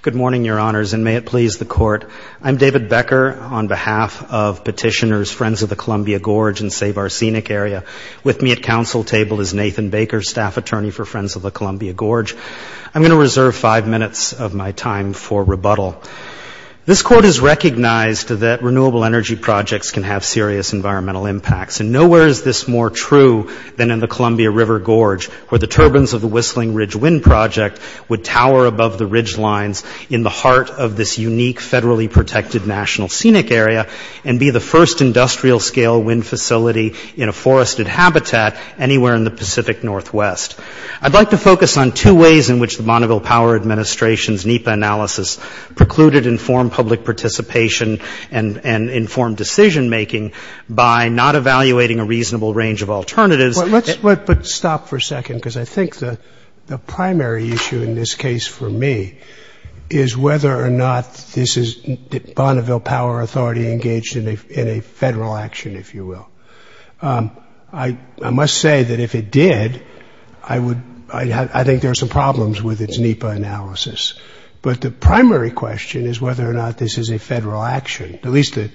Good morning, your honors, and may it please the court. I'm David Becker on behalf of petitioners Friends of the Columbia Gorge and Save Our Scenic Area. With me at council table is Nathan Baker, staff attorney for Friends of the Columbia Gorge. I'm going to reserve five minutes of my time for rebuttal. This court has recognized that renewable energy projects can have serious environmental impacts, and nowhere is this more true than in the Columbia River Gorge, where the turbines of the Whistling Ridge Wind Project would tower above the ridge lines in the heart of this unique federally protected national scenic area and be the first industrial scale wind facility in a forested habitat anywhere in the Pacific Northwest. I'd like to focus on two ways in which the Bonneville Power Administration's NEPA analysis precluded informed public participation and informed decision making by not evaluating a reasonable range of alternatives. Let's stop for a second, because I think the primary issue in this case for me is whether or not this is the Bonneville Power Authority engaged in a federal action, if you will. I must say that if it did, I think there are some problems with its NEPA analysis. But the primary question is whether or not this is a federal action, at least a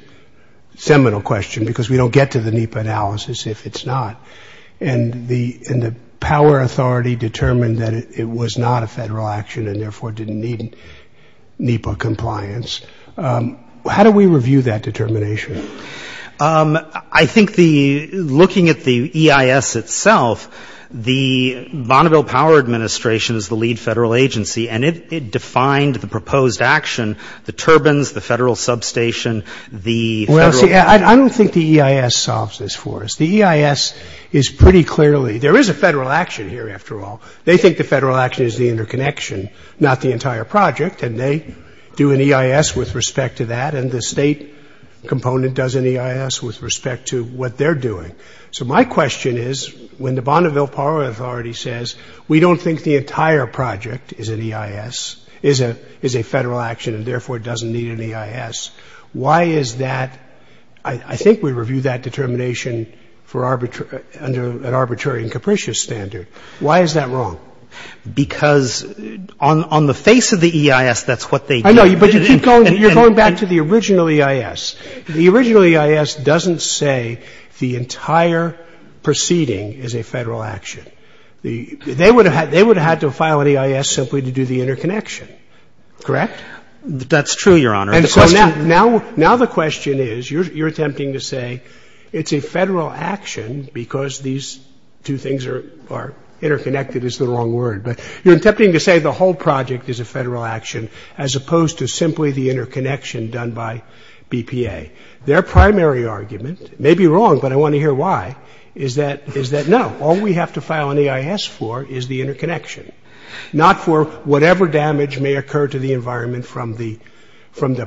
seminal question, because we don't get to the NEPA analysis if it's not. And the power authority determined that it was not a federal action and therefore didn't need NEPA compliance. How do we review that determination? I think looking at the EIS itself, the Bonneville Power Administration is the lead federal agency, and it defined the proposed action, the turbines, the federal substation, the federal... I don't think the EIS solves this for us. The EIS is pretty clearly...there is a federal action here, after all. They think the federal action is the interconnection, not the entire project, and they do an EIS with respect to that, and the state component does an EIS with respect to what they're doing. So my question is, when the Bonneville Power Authority says we don't think the entire project is an EIS, is a federal action, and therefore doesn't need an EIS, why is that? I think we review that determination under an arbitrary and capricious standard. Why is that wrong? Because on the face of the EIS, that's what they do. I know, but you keep going. You're going back to the original EIS. The original EIS doesn't say the entire proceeding is a federal action. They would have had to file an EIS simply to do the interconnection, correct? That's true, Your Honor. And so now the question is, you're attempting to say it's a federal action because these two things are interconnected is the wrong word, but you're attempting to say the whole project is a federal action as opposed to simply the interconnection done by BPA. Their primary argument, it may be wrong, but I want to hear why, is that no, all we have to file an EIS for is the interconnection, not for whatever damage may occur to the environment from the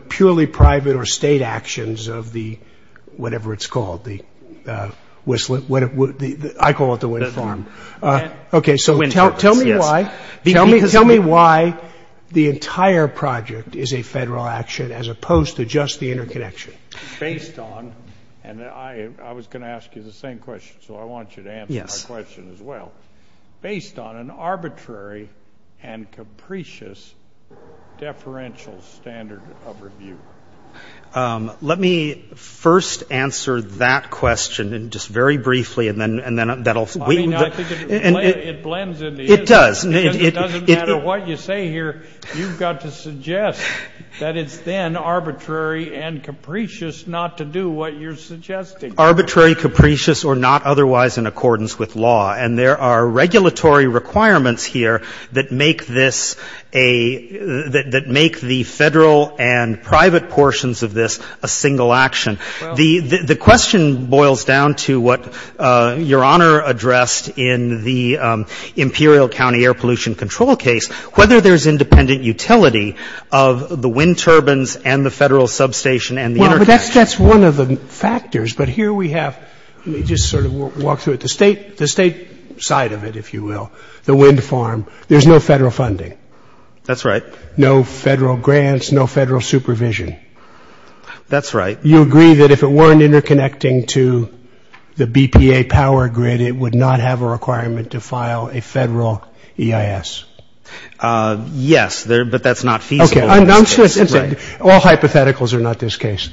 purely private or state actions of the, whatever it's called, the whistler, I call it the wind farm, okay, so tell me why the entire project is a federal action as opposed to just the interconnection. Based on, and I was going to ask you the same question, so I want you to answer my question as well, based on an arbitrary and capricious deferential standard of review. Let me first answer that question just very briefly and then that'll... I mean, I think it blends into... It does. It doesn't matter what you say here, you've got to suggest that it's then arbitrary and capricious not to do what you're suggesting. Arbitrary, capricious, or not otherwise in accordance with law, and there are regulatory requirements here that make this a, that make the federal and private portions of this a single action. The question boils down to what Your Honor addressed in the Imperial County air pollution control case, whether there's independent utility of the wind turbines and the federal substation and the interconnection. That's one of the factors, but here we have, let me just sort of walk through it, the state side of it, if you will, the wind farm, there's no federal funding. That's right. No federal grants, no federal supervision. That's right. You agree that if it weren't interconnecting to the BPA power grid, it would not have a requirement to file a federal EIS? Yes, but that's not feasible. Okay, I'm just, all hypotheticals are not this case.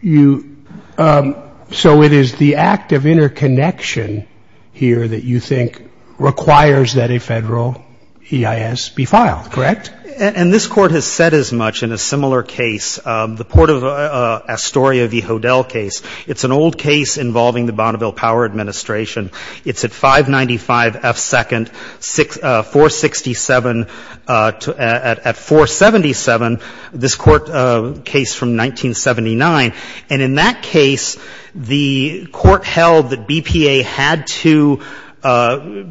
You, so it is the act of interconnection here that you think requires that a federal EIS be filed, correct? And this Court has said as much in a similar case, the Port of Astoria v. Hodel case. It's an old case involving the Bonneville Power Administration. It's at 595 F. 2nd, 467 at 477, this Court case from 1979. And in that case, the Court held that BPA had to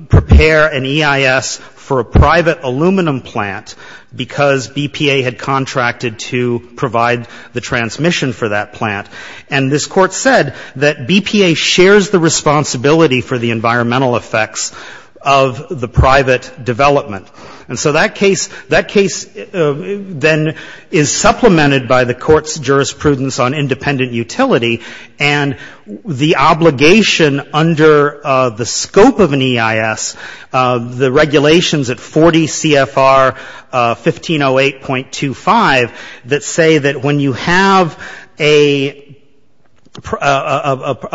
prepare an EIS for a private aluminum plant because BPA had contracted to provide the transmission for that plant. And this Court said that BPA shares the responsibility for the environmental effects of the private development. And so that case, that case then is supplemented by the Court's jurisprudence on independent utility and the obligation under the scope of an EIS, the regulations at 40 CFR 1508.25 that say that when you have a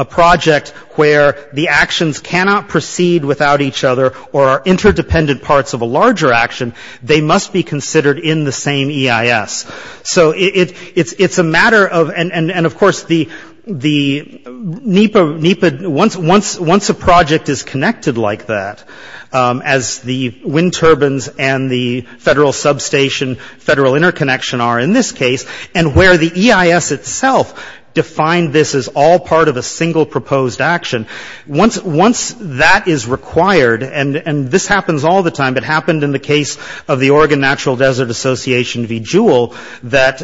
project where the actions cannot proceed under the jurisdiction of the EIS, or are interdependent parts of a larger action, they must be considered in the same EIS. So it's a matter of, and of course the NEPA, once a project is connected like that, as the wind turbines and the federal substation, federal interconnection are in this case, and where the EIS itself defined this as all part of a single proposed action, once that is required, and this happens all the time, it happened in the case of the Oregon Natural Desert Association v. Jewell that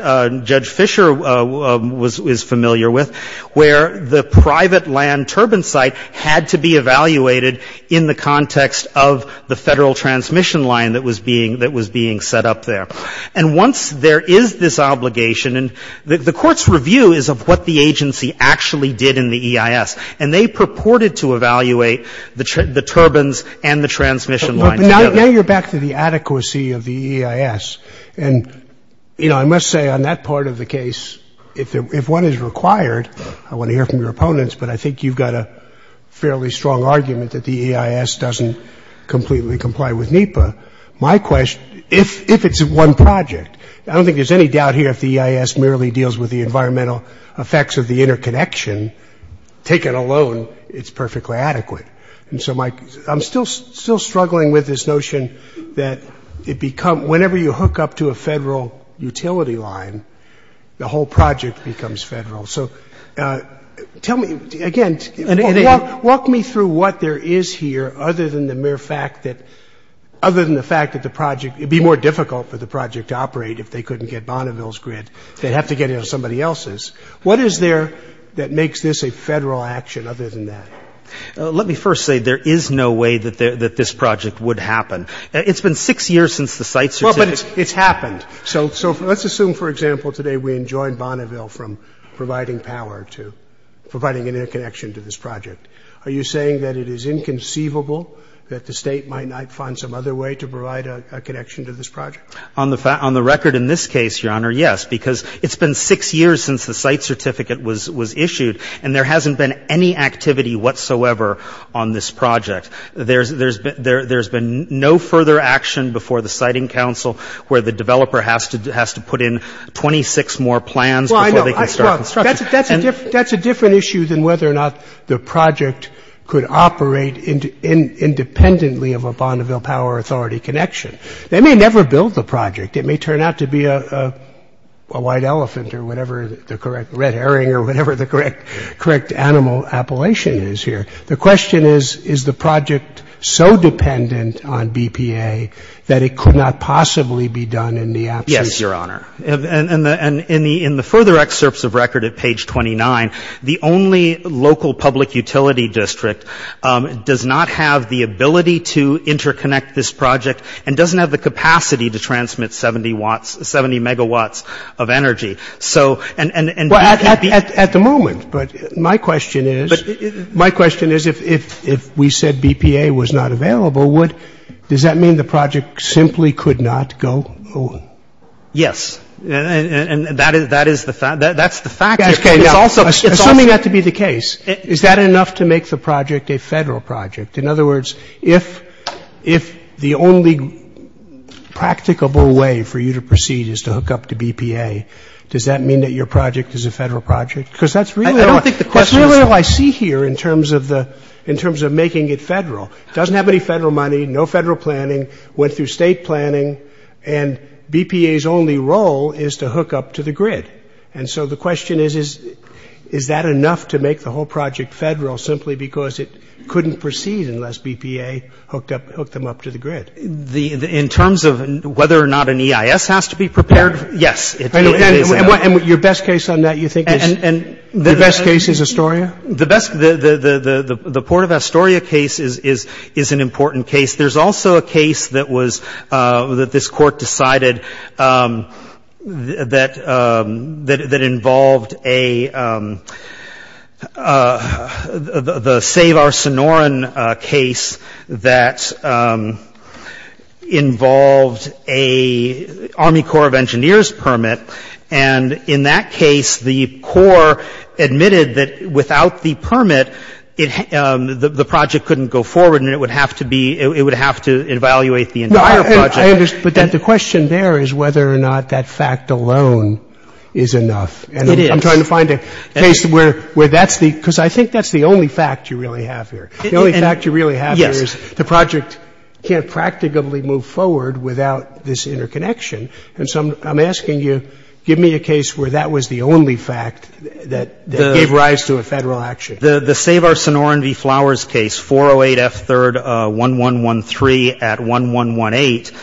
Judge Fisher was familiar with, where the private land turbine site had to be evaluated in the context of the federal transmission line that was being set up there. And once there is this obligation, and the Court's review is of what the agency actually did in the EIS, and they purported to evaluate the turbines and the transmission line together. But now you're back to the adequacy of the EIS. And, you know, I must say on that part of the case, if one is required, I want to hear from your opponents, but I think you've got a fairly strong argument that the EIS doesn't completely comply with NEPA. My question, if it's one project, I don't think there's any doubt here if the EIS merely deals with the environmental effects of the interconnection, take it alone, it's perfectly adequate. And so I'm still struggling with this notion that it becomes, whenever you hook up to a federal utility line, the whole project becomes federal. So tell me, again, walk me through what there is here other than the mere fact that, other than the fact that the project, it would be more difficult for the project to operate if they couldn't get Bonneville's grid, they'd have to get it on somebody else's. What is there that makes this a federal action other than that? Let me first say, there is no way that this project would happen. It's been six years since the site started. Well, but it's happened. So let's assume, for example, today we enjoined Bonneville from providing power to providing an interconnection to this project. Are you saying that it is inconceivable that the state might not find some other way to provide a connection to this project? On the record in this case, Your Honor, yes, because it's been six years since the site certificate was issued, and there hasn't been any activity whatsoever on this project. There's been no further action before the siting council where the developer has to put in 26 more plans before they can start construction. Well, I know. That's a different issue than whether or not the project could operate independently of a Bonneville Power Authority connection. They may never build them. They may never build the project. It may turn out to be a white elephant or whatever, the correct red herring or whatever the correct animal appellation is here. The question is, is the project so dependent on BPA that it could not possibly be done in the absence? Yes, Your Honor. And in the further excerpts of record at page 29, the only local public utility district does not have the ability to interconnect this project and doesn't have the capacity to transmit 70 megawatts of energy. Well, at the moment. But my question is, my question is, if we said BPA was not available, does that mean the project simply could not go on? Yes. And that is the fact. That's the fact. Assuming that to be the case, is that enough to make the project a Federal project? In other words, if the only practicable way for you to proceed is to hook up to BPA, does that mean that your project is a Federal project? Because that's really all I see here in terms of making it Federal. It doesn't have any Federal money, no Federal planning, went through state planning, and BPA's only role is to hook up to the grid. And so the question is, is that enough to make the whole project Federal simply because it couldn't proceed unless BPA hooked up, hooked them up to the grid? In terms of whether or not an EIS has to be prepared, yes. And your best case on that, you think is, your best case is Astoria? The best, the Port of Astoria case is an important case. There's also a case that was, that this was a Garcinorin case that involved an Army Corps of Engineers permit. And in that case, the Corps admitted that without the permit, it, the project couldn't go forward and it would have to be, it would have to evaluate the entire project. No, I understand. But the question there is whether or not that fact alone is enough. It is. And I'm trying to find a case where that's the, because I think that's the only fact you really have here. The only fact you really have here is the project can't practically move forward without this interconnection. And so I'm asking you, give me a case where that was the only fact that gave rise to a Federal action. The Savar-Cinorin v. Flowers case, 408 F. 3rd, 1113 at 1118,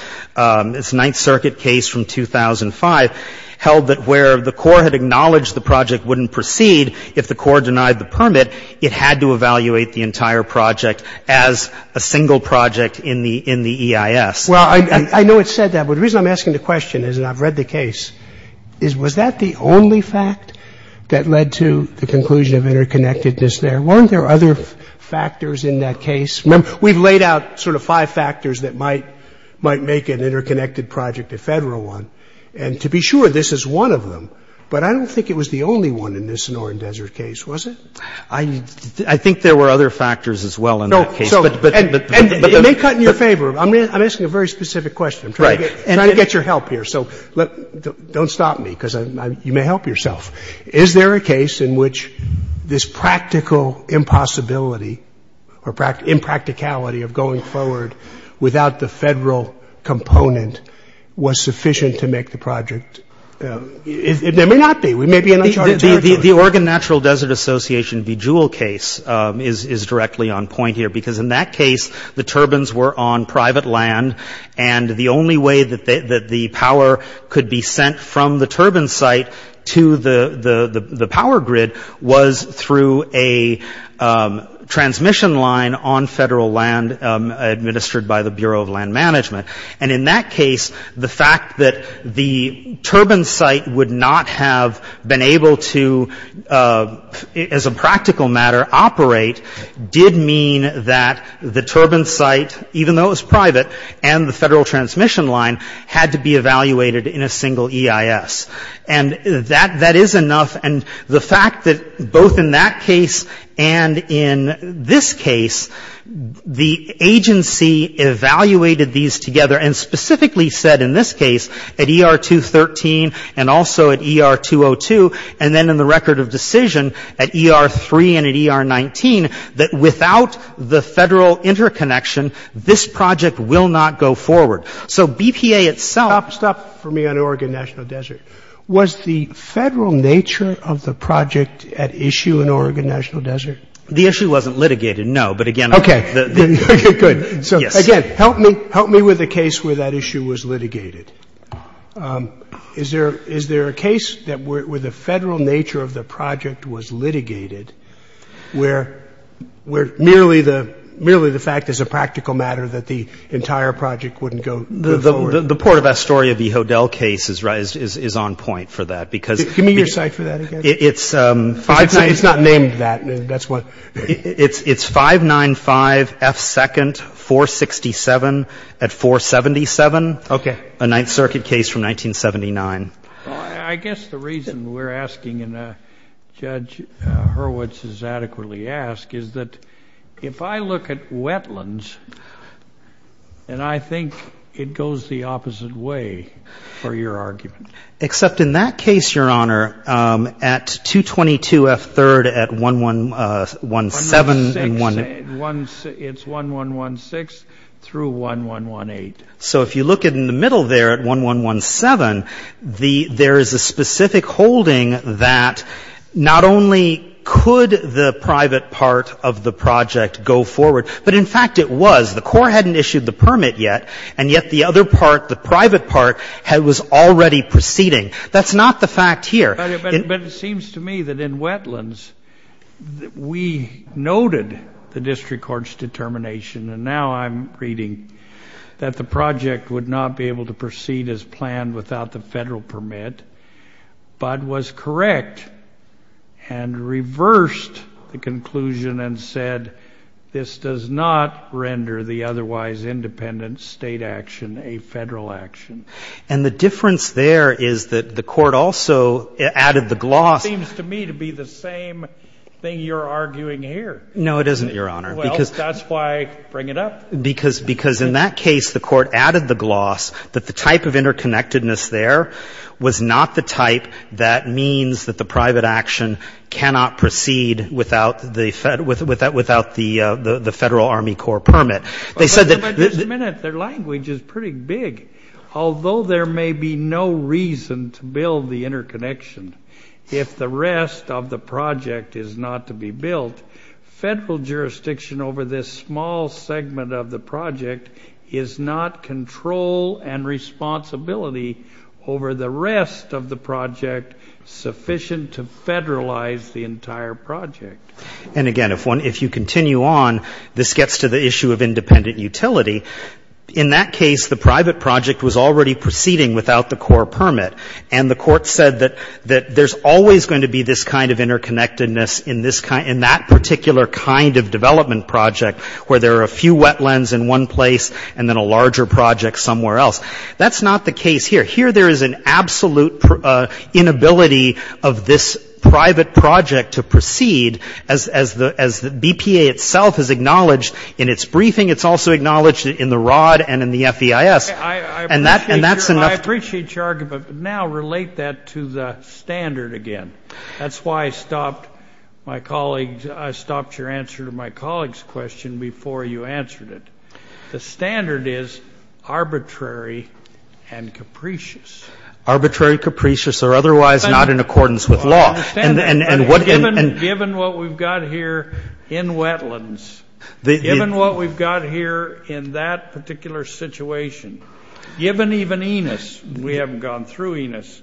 it's a Ninth Circuit case from 2005, held that where the Corps had acknowledged the project wouldn't proceed, if the Corps denied the permit, it had to evaluate the entire project as a single project in the, in the EIS. Well, I know it said that. But the reason I'm asking the question is, and I've read the case, is was that the only fact that led to the conclusion of interconnectedness there? Weren't there other factors in that case? Remember, we've laid out sort of five factors that might, might make an interconnected project a Federal one. And to be sure, this is one of them. But I don't think it was the only one in this Cinorin Desert case, was it? I, I think there were other factors as well in that case, but, but, but, but It may cut in your favor. I'm, I'm asking a very specific question. I'm trying to get, trying to get your help here. So let, don't stop me, because I, I, you may help yourself. Is there a case in which this practical impossibility or impracticality of going forward without the Federal component was sufficient to make the project? There may not be. We may be in uncharted territory. The, the Oregon Natural Desert Association VJULE case is, is directly on point here. Because in that case, the turbines were on private land. And the only way that, that the power could be sent from the turbine site to the, the, the power grid was through a transmission line on Federal land administered by the Bureau of Land Management. And in that case, the fact that the turbine site would not have been able to, as a practical matter, operate, did mean that the turbine site, even though it was private, and the Federal transmission line had to be evaluated in a single EIS. And that, that is enough. And the fact that both in that case and in this case, the agency evaluated these together, and specifically said in this case, at ER 213 and also at ER 202, and then in the record of decision, at ER 3 and at ER 19, that without the Federal interconnection, this project will not go forward. So BPA itself Stop, stop for me on Oregon National Desert. Was the Federal nature of the project at issue in Oregon National Desert? The issue wasn't litigated, no. But again Okay. Okay, good. So again, help me, help me with the case where that issue was litigated. Is there, is there a case that where the Federal nature of the project was litigated, where merely the, merely the fact as a practical matter that the entire project wouldn't go forward? The Port of Astoria v. Hodel case is right, is on point for that, because Give me your site for that again. It's 595 It's not named that, that's what It's, it's 595 F. 2nd 467 at 477 Okay A Ninth Circuit case from 1979. I guess the reason we're asking, and Judge Hurwitz has adequately asked, is that if I look at wetlands, and I think it goes the opposite way for your argument Except in that case, Your Honor, at 222 F. 3rd at 1117 1116, it's 1116 through 1118. So if you look in the middle there at 1117, the, there is a specific holding that not only could the private part of the project go forward, but in fact it was. The Corps hadn't issued the permit yet, and yet the other part, the private part, was already proceeding. That's not the fact here. But it seems to me that in wetlands, we noted the district court's determination, and now I'm reading that the project would not be able to proceed as planned without the Federal permit, but was correct and reversed the conclusion and said, this does not render the otherwise independent State action a Federal action. And the difference there is that the Court also added the gloss It seems to me to be the same thing you're arguing here. No, it isn't, Your Honor, because Well, that's why I bring it up. Because in that case, the Court added the gloss that the type of interconnectedness there was not the type that means that the private action cannot proceed without the without the Federal Army Corps permit. But just a minute, their language is pretty big. Although there may be no reason to build the interconnection, if the rest of the project is not to be built, Federal jurisdiction over this small segment of the project is not control and responsibility over the rest of the project sufficient to federalize the entire project. And, again, if you continue on, this gets to the issue of independent utility. In that case, the private project was already proceeding without the Corps permit. And the Court said that there's always going to be this kind of interconnectedness in that particular kind of development project where there are a few wetlands in one place and then a larger project somewhere else. That's not the case here. Here there is an absolute inability of this private project to proceed, as the BPA itself has acknowledged in its briefing. It's also acknowledged in the ROD and in the FEIS. And that's enough to I appreciate your argument, but now relate that to the standard again. That's why I stopped my colleague's I stopped your answer to my colleague's question before you answered it. The standard is arbitrary and capricious. Arbitrary, capricious, or otherwise not in accordance with law. I understand that. And what Given what we've got here in wetlands, given what we've got here in that particular situation, given even Enos, we haven't gone through Enos,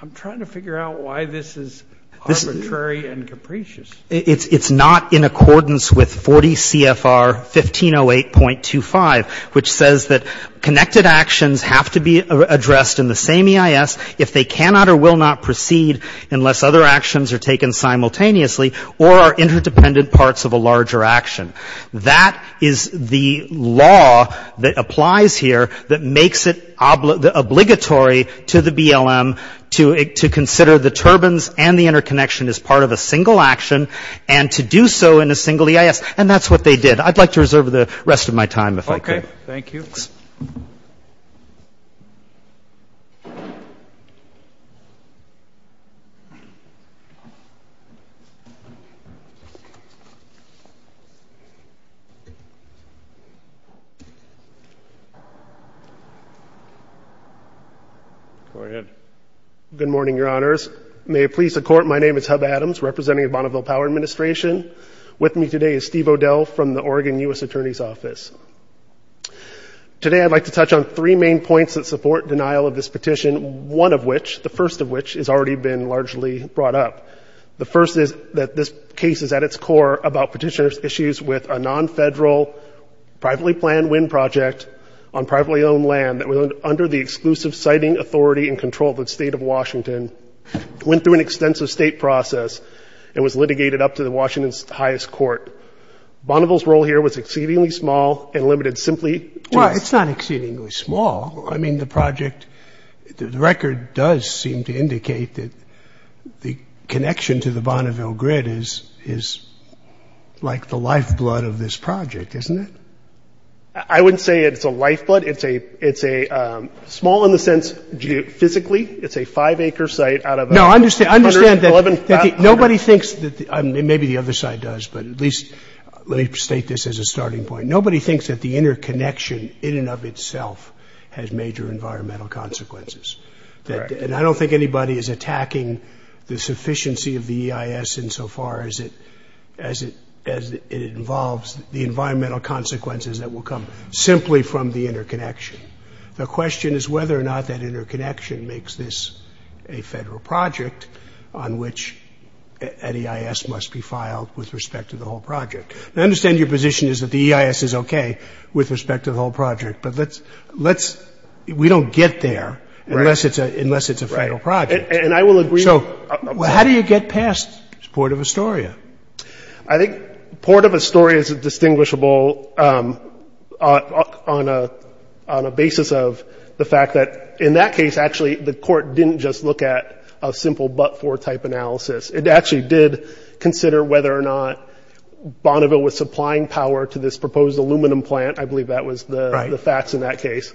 I'm trying to figure out why this is arbitrary and capricious. It's not in accordance with 40 CFR 1508.25, which says that connected actions have to be addressed in the same EIS if they cannot or will not proceed unless other actions are taken simultaneously or are interdependent parts of a larger action. That is the law that applies here that makes it obligatory to the BLM to consider the turbines and the interconnection as part of a single action and to do so in a single EIS. And that's what they did. I'd like to reserve the rest of my time if I could. Okay. Thank you. Go ahead. Good morning, Your Honors. May it please the Court, my name is Hub Adams, representing the Bonneville Power Administration. With me today is Steve O'Dell from the Oregon U.S. Attorney's Office. Today I'd like to touch on three main points that support denial of this petition, one of which, the first of which, has already been largely brought up. The first is that this case is at its core about petitioner's issues with a non-federal privately planned wind project on privately owned land that was under the exclusive siting authority and control of the state of Washington, went through an extensive state process, and was litigated up to the Washington's highest court. Bonneville's role here was exceedingly small and limited simply to... Well, it's not exceedingly small. I mean, the project, the record does seem to indicate that the connection to the Bonneville grid is like the lifeblood of this project, isn't it? I wouldn't say it's a lifeblood. It's a small in the sense, physically, it's a five acre site out of... No, I understand that nobody thinks that... Maybe the other side does, but at least let me state this as a starting point. Nobody thinks that the interconnection in and of itself has major environmental consequences. And I don't think anybody is attacking the sufficiency of the EIS in so far as it involves the environmental consequences that will come simply from the interconnection. The question is whether or not that interconnection makes this a federal project on which an EIS must be filed with respect to the whole project. I understand your position is that the EIS is okay with respect to the whole project, but let's... We don't get there unless it's a federal project. And I will agree... So how do you get past Port of Astoria? I think Port of Astoria is distinguishable on a basis of the fact that in that case, actually, the court didn't just look at a simple but-for type analysis. It actually did consider whether or not Bonneville was supplying power to this proposed aluminum plant. I believe that was the facts in that case.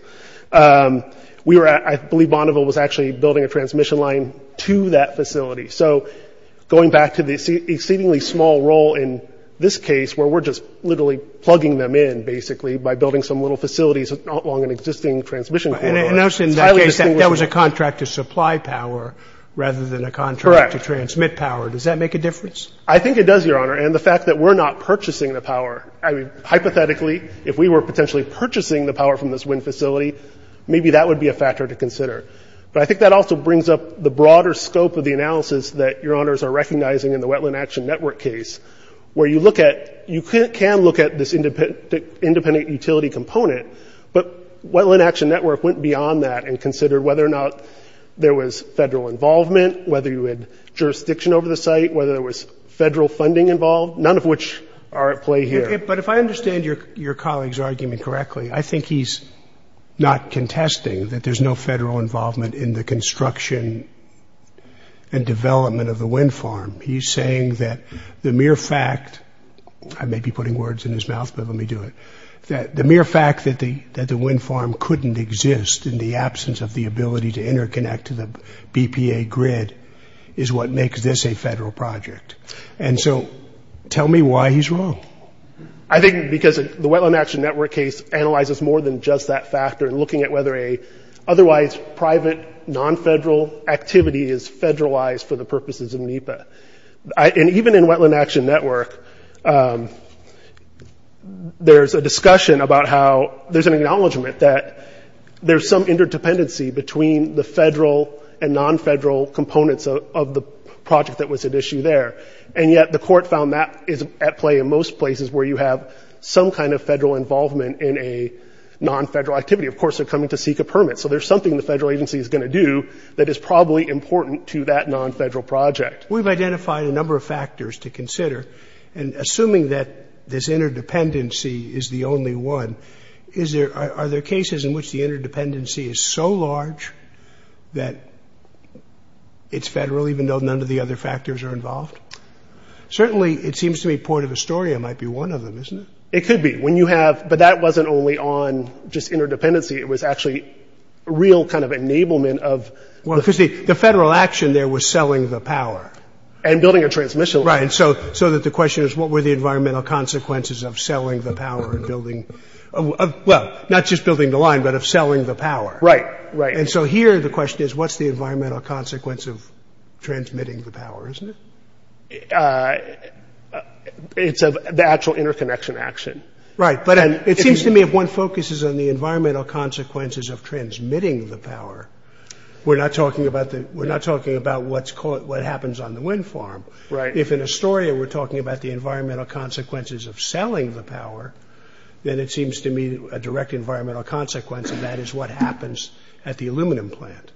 I believe Bonneville was actually building a transmission line to that facility. So going back to the exceedingly small role in this case, where we're just literally plugging them in, basically, by building some little facilities along an existing transmission corridor. In that case, that was a contract to supply power rather than a contract to transmit power. Does that make a difference? I think it does, Your Honor. And the fact that we're not purchasing the power, hypothetically, if we were potentially purchasing the power from this wind facility, maybe that would be a factor to consider. But I think that also brings up the broader scope of the analysis that Your Honors are recognizing in the Wetland Action Network case, where you can look at this independent utility component, but Wetland Action Network went beyond that and considered whether or not there was federal involvement, whether you had jurisdiction over the site, whether there was federal funding involved, none of which are at play here. But if I understand your colleague's argument correctly, I think he's not contesting that there's no federal involvement in the construction and development of the wind farm. He's saying that the mere fact – I may be putting words in his mouth, but let me do it – that the mere fact that the wind farm couldn't exist in the absence of the ability to interconnect to the BPA grid is what makes this a federal project. And so tell me why he's wrong. I think because the Wetland Action Network case analyzes more than just that factor in looking at whether an otherwise private, non-federal activity is federalized for the purposes of NEPA. And even in Wetland Action Network, there's a discussion about how – there's an acknowledgment that there's some interdependency between the federal and non-federal components of the project that was at issue there. And yet the court found that is at play in most places where you have some kind of federal involvement in a non-federal activity. Of course, they're coming to seek a permit. So there's something the federal agency is going to do that is probably important to that non-federal project. We've identified a number of factors to consider, and assuming that this interdependency is the only one, are there cases in which the interdependency is so large that it's federal even though none of the other factors are involved? Certainly, it seems to me Point of Astoria might be one of them, isn't it? It could be. When you have – but that wasn't only on just interdependency. It was actually real kind of enablement of – Well, because the federal action there was selling the power. And building a transmission line. Right. So that the question is what were the environmental consequences of selling the power and building – well, not just building the line, but of selling the power. Right, right. And so here the question is what's the environmental consequence of transmitting the power, isn't it? It's the actual interconnection action. Right. But it seems to me if one focuses on the environmental consequences of transmitting the power, we're not talking about what happens on the wind farm. Right. If in Astoria we're talking about the environmental consequences of selling the power, then it seems to me a direct environmental consequence of that is what happens at the aluminum plant.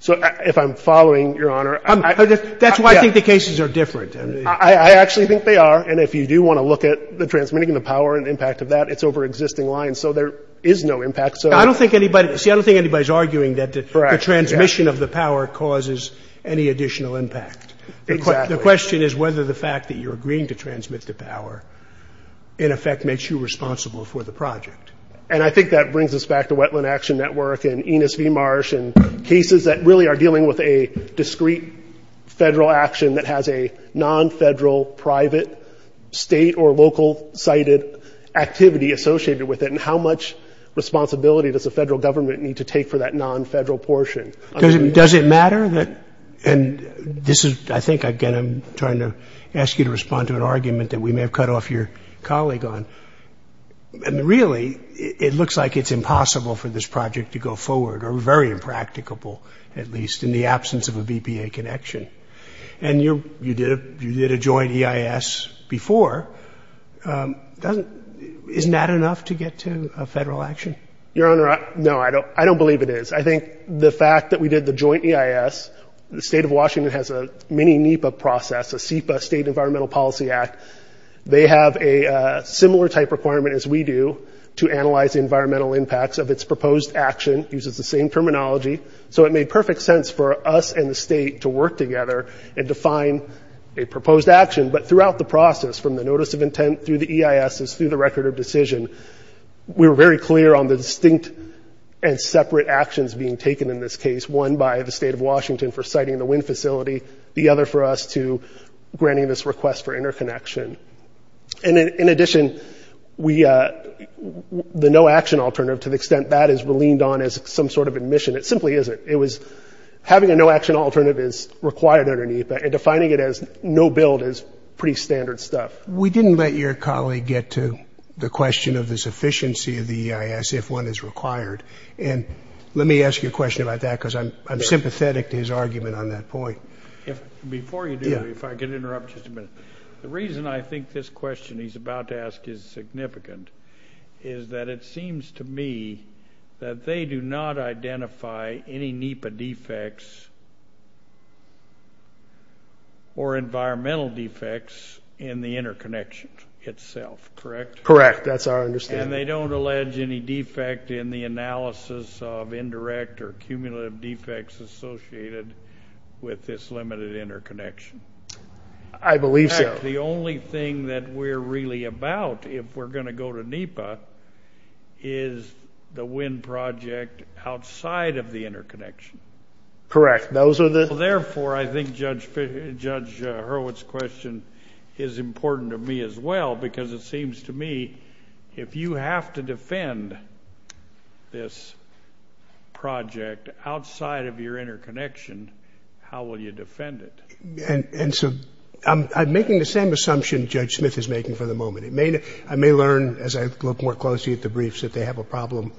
So if I'm following, Your Honor – That's why I think the cases are different. I actually think they are. And if you do want to look at the transmitting of the power and the impact of that, it's over existing lines. So there is no impact. I don't think anybody – see, I don't think anybody's arguing that the transmission of the power causes any additional impact. Exactly. The question is whether the fact that you're agreeing to transmit the power in effect makes you responsible for the project. And I think that brings us back to Wetland Action Network and Enos v. Marsh and cases that really are dealing with a discrete federal action that has a non-federal, private, state- or local-sided activity associated with it. And how much responsibility does the federal government need to take for that non-federal portion? Does it matter that – and this is – I think, again, I'm trying to ask you to respond to an argument that we may have cut off your colleague on. And really, it looks like it's impossible for this project to go forward or very impracticable, at least, in the absence of a BPA connection. And you did a joint EIS before. Isn't that enough to get to a federal action? Your Honor, no, I don't believe it is. I think the fact that we did the joint EIS – the state of Washington has a mini NEPA process, a SEPA, State Environmental Policy Act. They have a similar type requirement as we do to analyze environmental impacts of its proposed action. It uses the same terminology. So it made perfect sense for us and the state to work together and define a proposed action. But throughout the process, from the notice of intent through the EISs through the record of decision, we were very clear on the distinct and separate actions being taken in this case, one by the state of Washington for siting the wind facility, the other for us to granting this request for interconnection. And in addition, the no-action alternative, to the extent that is leaned on as some sort of admission, it simply isn't. It was having a no-action alternative is required under NEPA and defining it as no-build is pretty standard stuff. We didn't let your colleague get to the question of the sufficiency of the EIS, if one is required. And let me ask you a question about that because I'm sympathetic to his argument on that point. Before you do, if I could interrupt just a minute. The reason I think this question he's about to ask is significant is that it seems to me that they do not identify any NEPA defects or environmental defects in the interconnection itself, correct? Correct. That's our understanding. And they don't allege any defect in the analysis of indirect or cumulative defects associated with this limited interconnection. I believe so. In fact, the only thing that we're really about, if we're going to go to NEPA, is the wind project outside of the interconnection. Correct. Those are the— Therefore, I think Judge Hurwitz's question is important to me as well because it seems to me if you have to defend this project outside of your interconnection, how will you defend it? And so I'm making the same assumption Judge Smith is making for the moment. I may learn as I look more closely at the briefs that they have a problem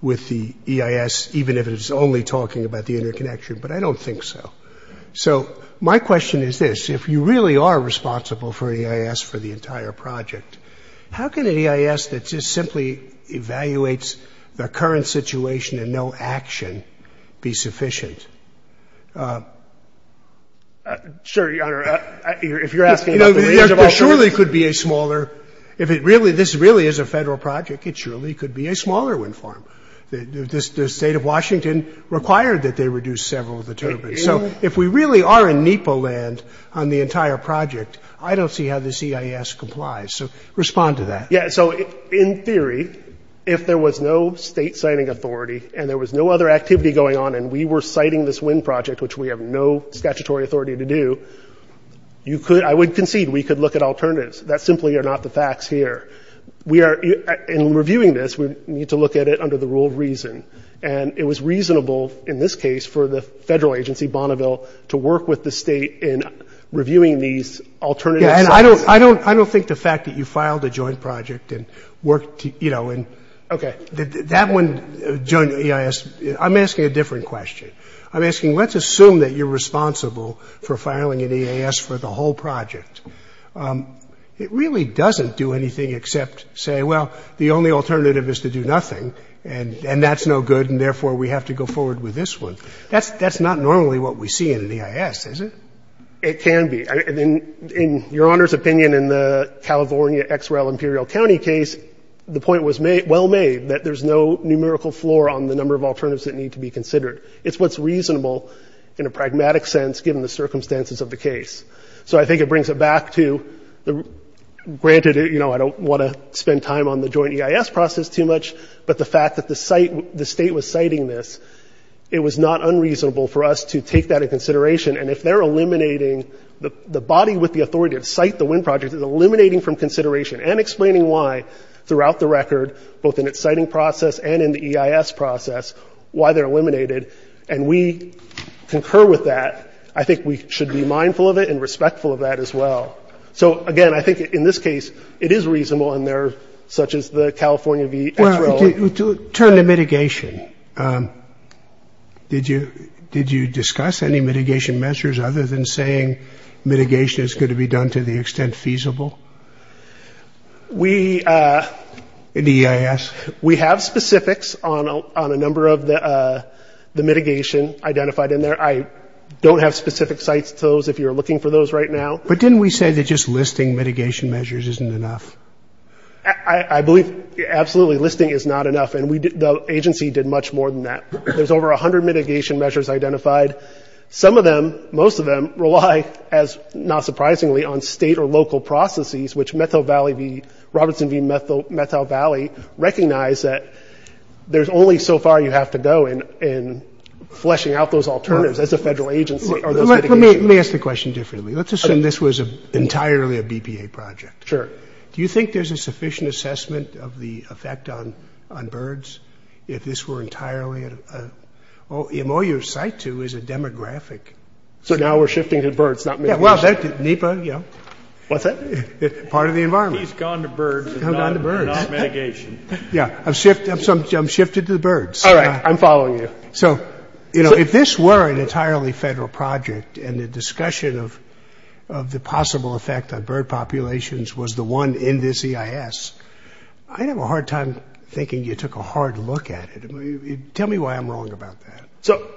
with the EIS even if it is only talking about the interconnection, but I don't think so. So my question is this. If you really are responsible for EIS for the entire project, how can an EIS that just simply evaluates the current situation and no action be sufficient? Sure, Your Honor. If you're asking about the range of alternatives— It surely could be a smaller—if this really is a federal project, it surely could be a smaller wind farm. The state of Washington required that they reduce several of the turbines. So if we really are in NEPA land on the entire project, I don't see how this EIS complies. So respond to that. Yeah, so in theory, if there was no state citing authority and there was no other activity going on and we were citing this wind project, which we have no statutory authority to do, I would concede we could look at alternatives. That simply are not the facts here. In reviewing this, we need to look at it under the rule of reason. And it was reasonable in this case for the federal agency, Bonneville, to work with the state in reviewing these alternatives. I don't think the fact that you filed a joint project and worked— Okay. That one, joint EIS—I'm asking a different question. I'm asking, let's assume that you're responsible for filing an EIS for the whole project. It really doesn't do anything except say, well, the only alternative is to do nothing, and that's no good, and therefore we have to go forward with this one. That's not normally what we see in an EIS, is it? It can be. In Your Honor's opinion, in the California XREL Imperial County case, the point was well made that there's no numerical floor on the number of alternatives that need to be considered. It's what's reasonable in a pragmatic sense, given the circumstances of the case. So I think it brings it back to, granted, you know, I don't want to spend time on the joint EIS process too much, but the fact that the state was citing this, it was not unreasonable for us to take that into consideration, and if they're eliminating—the body with the authority to cite the wind project is eliminating from consideration and explaining why, throughout the record, both in its citing process and in the EIS process, why they're eliminated, and we concur with that. I think we should be mindful of it and respectful of that as well. So, again, I think in this case, it is reasonable, and there—such as the California XREL— Well, turn to mitigation. Did you discuss any mitigation measures, other than saying mitigation is going to be done to the extent feasible? We— In the EIS? We have specifics on a number of the mitigation identified in there. I don't have specific sites to those, if you're looking for those right now. But didn't we say that just listing mitigation measures isn't enough? I believe, absolutely, listing is not enough, and the agency did much more than that. There's over 100 mitigation measures identified. Some of them, most of them, rely, not surprisingly, on state or local processes, which Methow Valley v. Robertson v. Methow Valley recognize that there's only so far you have to go in fleshing out those alternatives as a federal agency or those mitigations. Let me ask the question differently. Let's assume this was entirely a BPA project. Sure. Do you think there's a sufficient assessment of the effect on birds if this were entirely a—in all your site, too, is a demographic? So now we're shifting to birds, not mitigation? Yeah, well, NEPA, you know— What's that? Part of the environment. He's gone to birds and not mitigation. Yeah, I've shifted to the birds. All right, I'm following you. So, you know, if this were an entirely federal project and the discussion of the possible effect on bird populations was the one in this EIS, I'd have a hard time thinking you took a hard look at it. Tell me why I'm wrong about that. So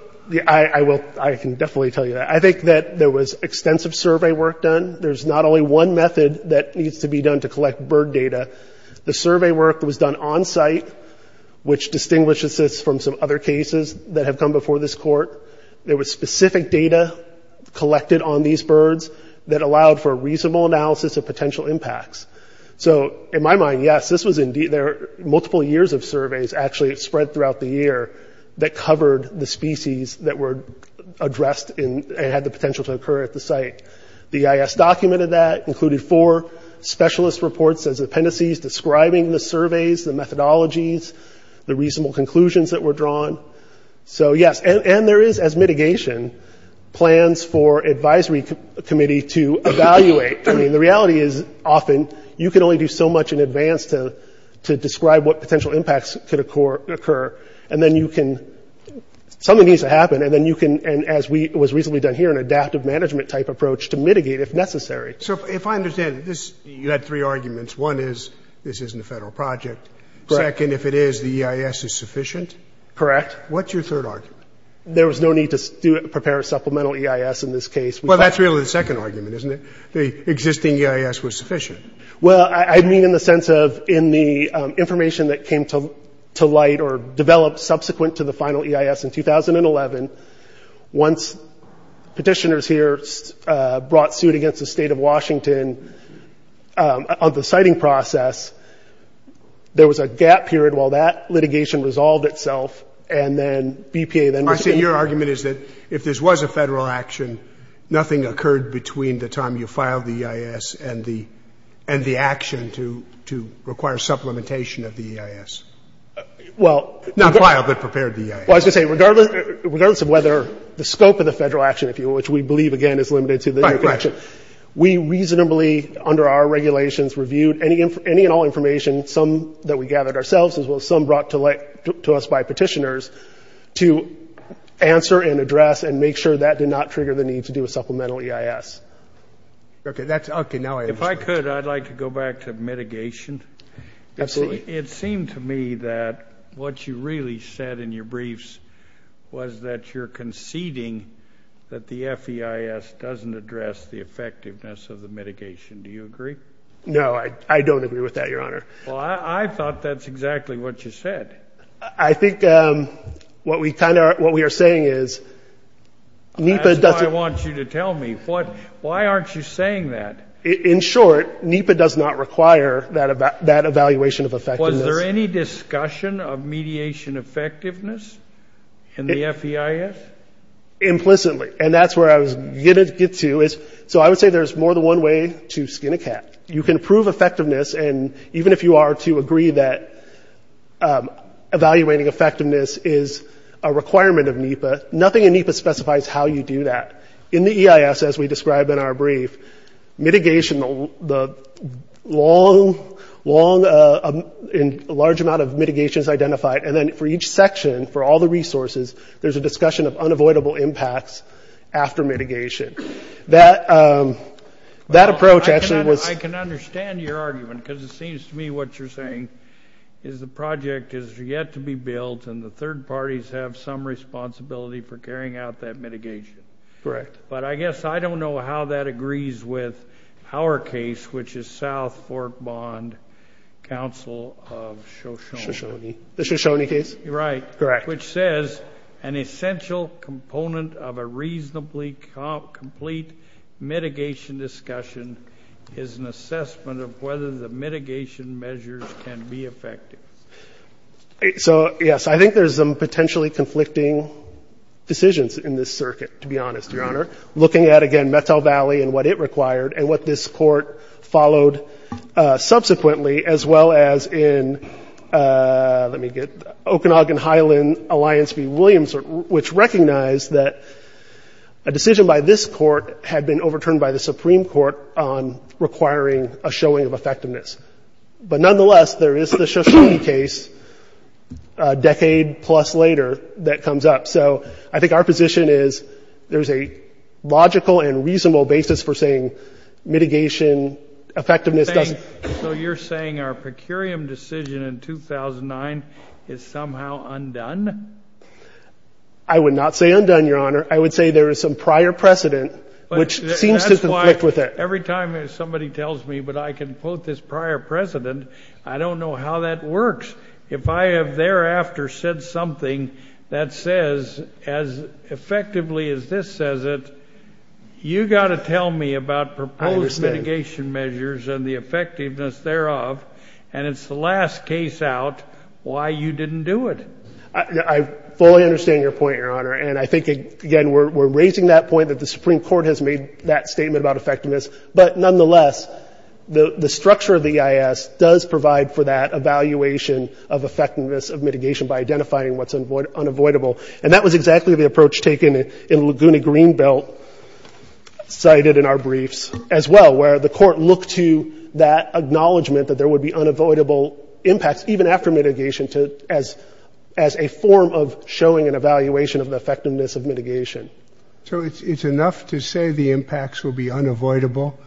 I can definitely tell you that. I think that there was extensive survey work done. There's not only one method that needs to be done to collect bird data. The survey work was done on-site, which distinguishes this from some other cases that have come before this court. There was specific data collected on these birds that allowed for a reasonable analysis of potential impacts. So in my mind, yes, this was indeed— there are multiple years of surveys actually spread throughout the year that covered the species that were addressed and had the potential to occur at the site. The EIS documented that, included four specialist reports as appendices describing the surveys, the methodologies, the reasonable conclusions that were drawn. So yes, and there is, as mitigation, plans for advisory committee to evaluate. I mean, the reality is often you can only do so much in advance to describe what potential impacts could occur, and then you can—something needs to happen, and then you can—as was recently done here, an adaptive management-type approach to mitigate if necessary. So if I understand, you had three arguments. One is this isn't a federal project. Second, if it is, the EIS is sufficient? Correct. What's your third argument? There was no need to prepare a supplemental EIS in this case. Well, that's really the second argument, isn't it? The existing EIS was sufficient. Well, I mean in the sense of in the information that came to light or developed subsequent to the final EIS in 2011, once petitioners here brought suit against the state of Washington on the citing process, there was a gap period while that litigation resolved itself, and then BPA then— I see. Your argument is that if this was a federal action, nothing occurred between the time you filed the EIS and the action to require supplementation of the EIS. Well— Not filed, but prepared the EIS. Well, I was going to say, regardless of whether the scope of the federal action, which we believe, again, is limited to the— Right, right. We reasonably, under our regulations, reviewed any and all information, some that we gathered ourselves as well as some brought to us by petitioners, to answer and address and make sure that did not trigger the need to do a supplemental EIS. Okay, that's—okay, now I understand. If I could, I'd like to go back to mitigation. Absolutely. It seemed to me that what you really said in your briefs was that you're conceding that the FEIS doesn't address the effectiveness of the mitigation. Do you agree? No, I don't agree with that, Your Honor. Well, I thought that's exactly what you said. I think what we kind of are—what we are saying is NEPA doesn't— That's what I want you to tell me. Why aren't you saying that? In short, NEPA does not require that evaluation of effectiveness. Was there any discussion of mediation effectiveness in the FEIS? Implicitly, and that's where I was going to get to. So I would say there's more than one way to skin a cat. You can prove effectiveness, and even if you are to agree that evaluating effectiveness is a requirement of NEPA, nothing in NEPA specifies how you do that. In the EIS, as we described in our brief, mitigation, the long— a large amount of mitigation is identified, and then for each section, for all the resources, there's a discussion of unavoidable impacts after mitigation. That approach actually was— I can understand your argument because it seems to me what you're saying is the project is yet to be built and the third parties have some responsibility for carrying out that mitigation. Correct. But I guess I don't know how that agrees with our case, which is South Fork Bond Council of Shoshone. Shoshone. The Shoshone case? Right. Correct. Which says an essential component of a reasonably complete mitigation discussion is an assessment of whether the mitigation measures can be effective. So, yes, I think there's some potentially conflicting decisions in this circuit, to be honest, Your Honor. Looking at, again, Methow Valley and what it required and what this Court followed subsequently, as well as in—let me get—Okanagan Highland Alliance v. Williams, which recognized that a decision by this Court had been overturned by the Supreme Court on requiring a showing of effectiveness. But nonetheless, there is the Shoshone case a decade-plus later that comes up. So I think our position is there's a logical and reasonable basis for saying mitigation effectiveness doesn't— So you're saying our per curiam decision in 2009 is somehow undone? I would not say undone, Your Honor. I would say there is some prior precedent which seems to conflict with it. Every time somebody tells me, but I can quote this prior precedent, I don't know how that works. If I have thereafter said something that says as effectively as this says it, you've got to tell me about proposed mitigation measures and the effectiveness thereof, and it's the last case out why you didn't do it. I fully understand your point, Your Honor. And I think, again, we're raising that point that the Supreme Court has made that statement about effectiveness. But nonetheless, the structure of the EIS does provide for that evaluation of effectiveness of mitigation by identifying what's unavoidable. And that was exactly the approach taken in Laguna Greenbelt, cited in our briefs as well, where the Court looked to that acknowledgement that there would be unavoidable impacts, even after mitigation, as a form of showing an evaluation of the effectiveness of mitigation. So it's enough to say the impacts will be unavoidable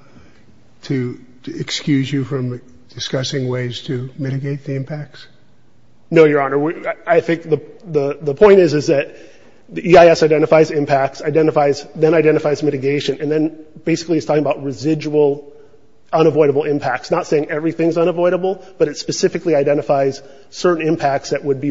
to excuse you from discussing ways to mitigate the impacts? No, Your Honor. I think the point is that the EIS identifies impacts, identifies, then identifies mitigation, and then basically is talking about residual unavoidable impacts, not saying everything's unavoidable, but it specifically identifies certain impacts that would be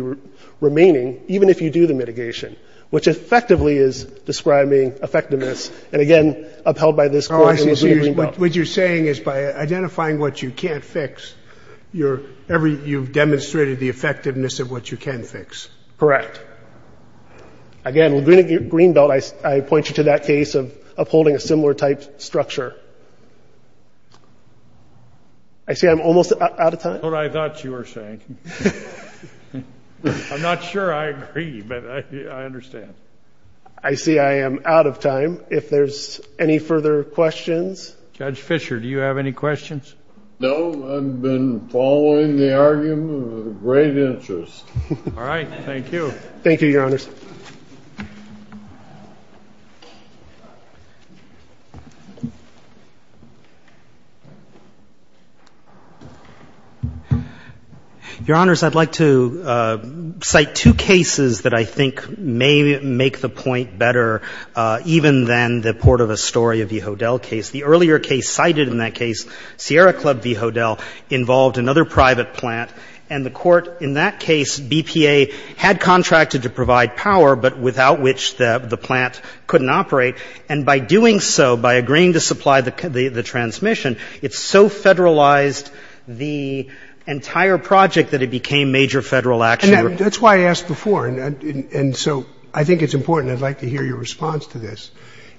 remaining, even if you do the mitigation, which effectively is describing effectiveness. And, again, upheld by this Court in Laguna Greenbelt. Oh, I see. So what you're saying is by identifying what you can't fix, you've demonstrated the effectiveness of what you can fix. Correct. Again, Laguna Greenbelt, I point you to that case of upholding a similar type structure. I see I'm almost out of time. That's what I thought you were saying. I'm not sure I agree, but I understand. I see I am out of time. If there's any further questions. Judge Fisher, do you have any questions? No. I've been following the argument with great interest. All right. Thank you. Thank you, Your Honors. Your Honors, I'd like to cite two cases that I think may make the point better, even than the Port of Astoria v. Hodel case. The earlier case cited in that case, Sierra Club v. Hodel, involved another private plant, and the Court in that case, BPA, had contracted to provide private land to the power, but without which the plant couldn't operate, and by doing so, by agreeing to supply the transmission, it so federalized the entire project that it became major federal action. That's why I asked before, and so I think it's important. I'd like to hear your response to this.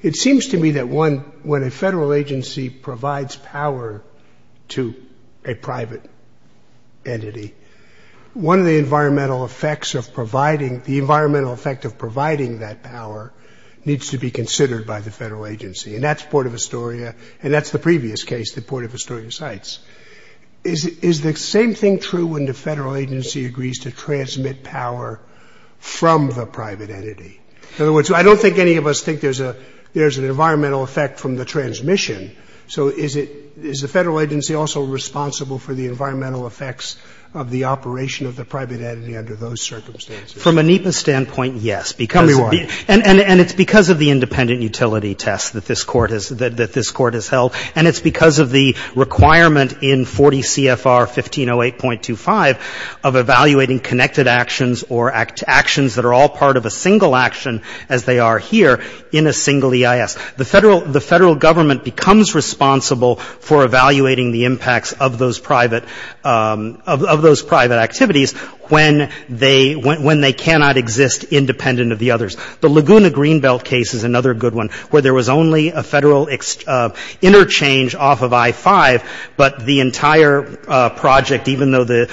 It seems to me that when a federal agency provides power to a private entity, one of the environmental effects of providing that power needs to be considered by the federal agency, and that's Port of Astoria, and that's the previous case that Port of Astoria cites. Is the same thing true when the federal agency agrees to transmit power from the private entity? In other words, I don't think any of us think there's an environmental effect from the transmission, so is the federal agency also responsible for the environmental effects of the operation of the private entity under those circumstances? From ANIPA's standpoint, yes. And it's because of the independent utility test that this Court has held, and it's because of the requirement in 40 CFR 1508.25 of evaluating connected actions or actions that are all part of a single action as they are here in a single EIS. The Federal Government becomes responsible for evaluating the impacts of those private activities when they cannot exist independent of the others. The Laguna Greenbelt case is another good one where there was only a federal interchange off of I-5, but the entire project, even though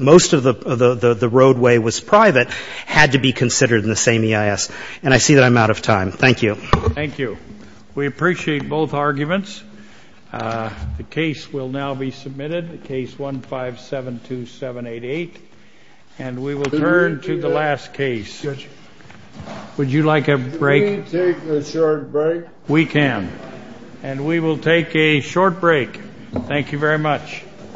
most of the roadway was private, had to be considered in the same EIS. And I see that I'm out of time. Thank you. Thank you. We appreciate both arguments. The case will now be submitted, Case 1572788. And we will turn to the last case. Would you like a break? Can we take a short break? We can. And we will take a short break. Thank you very much.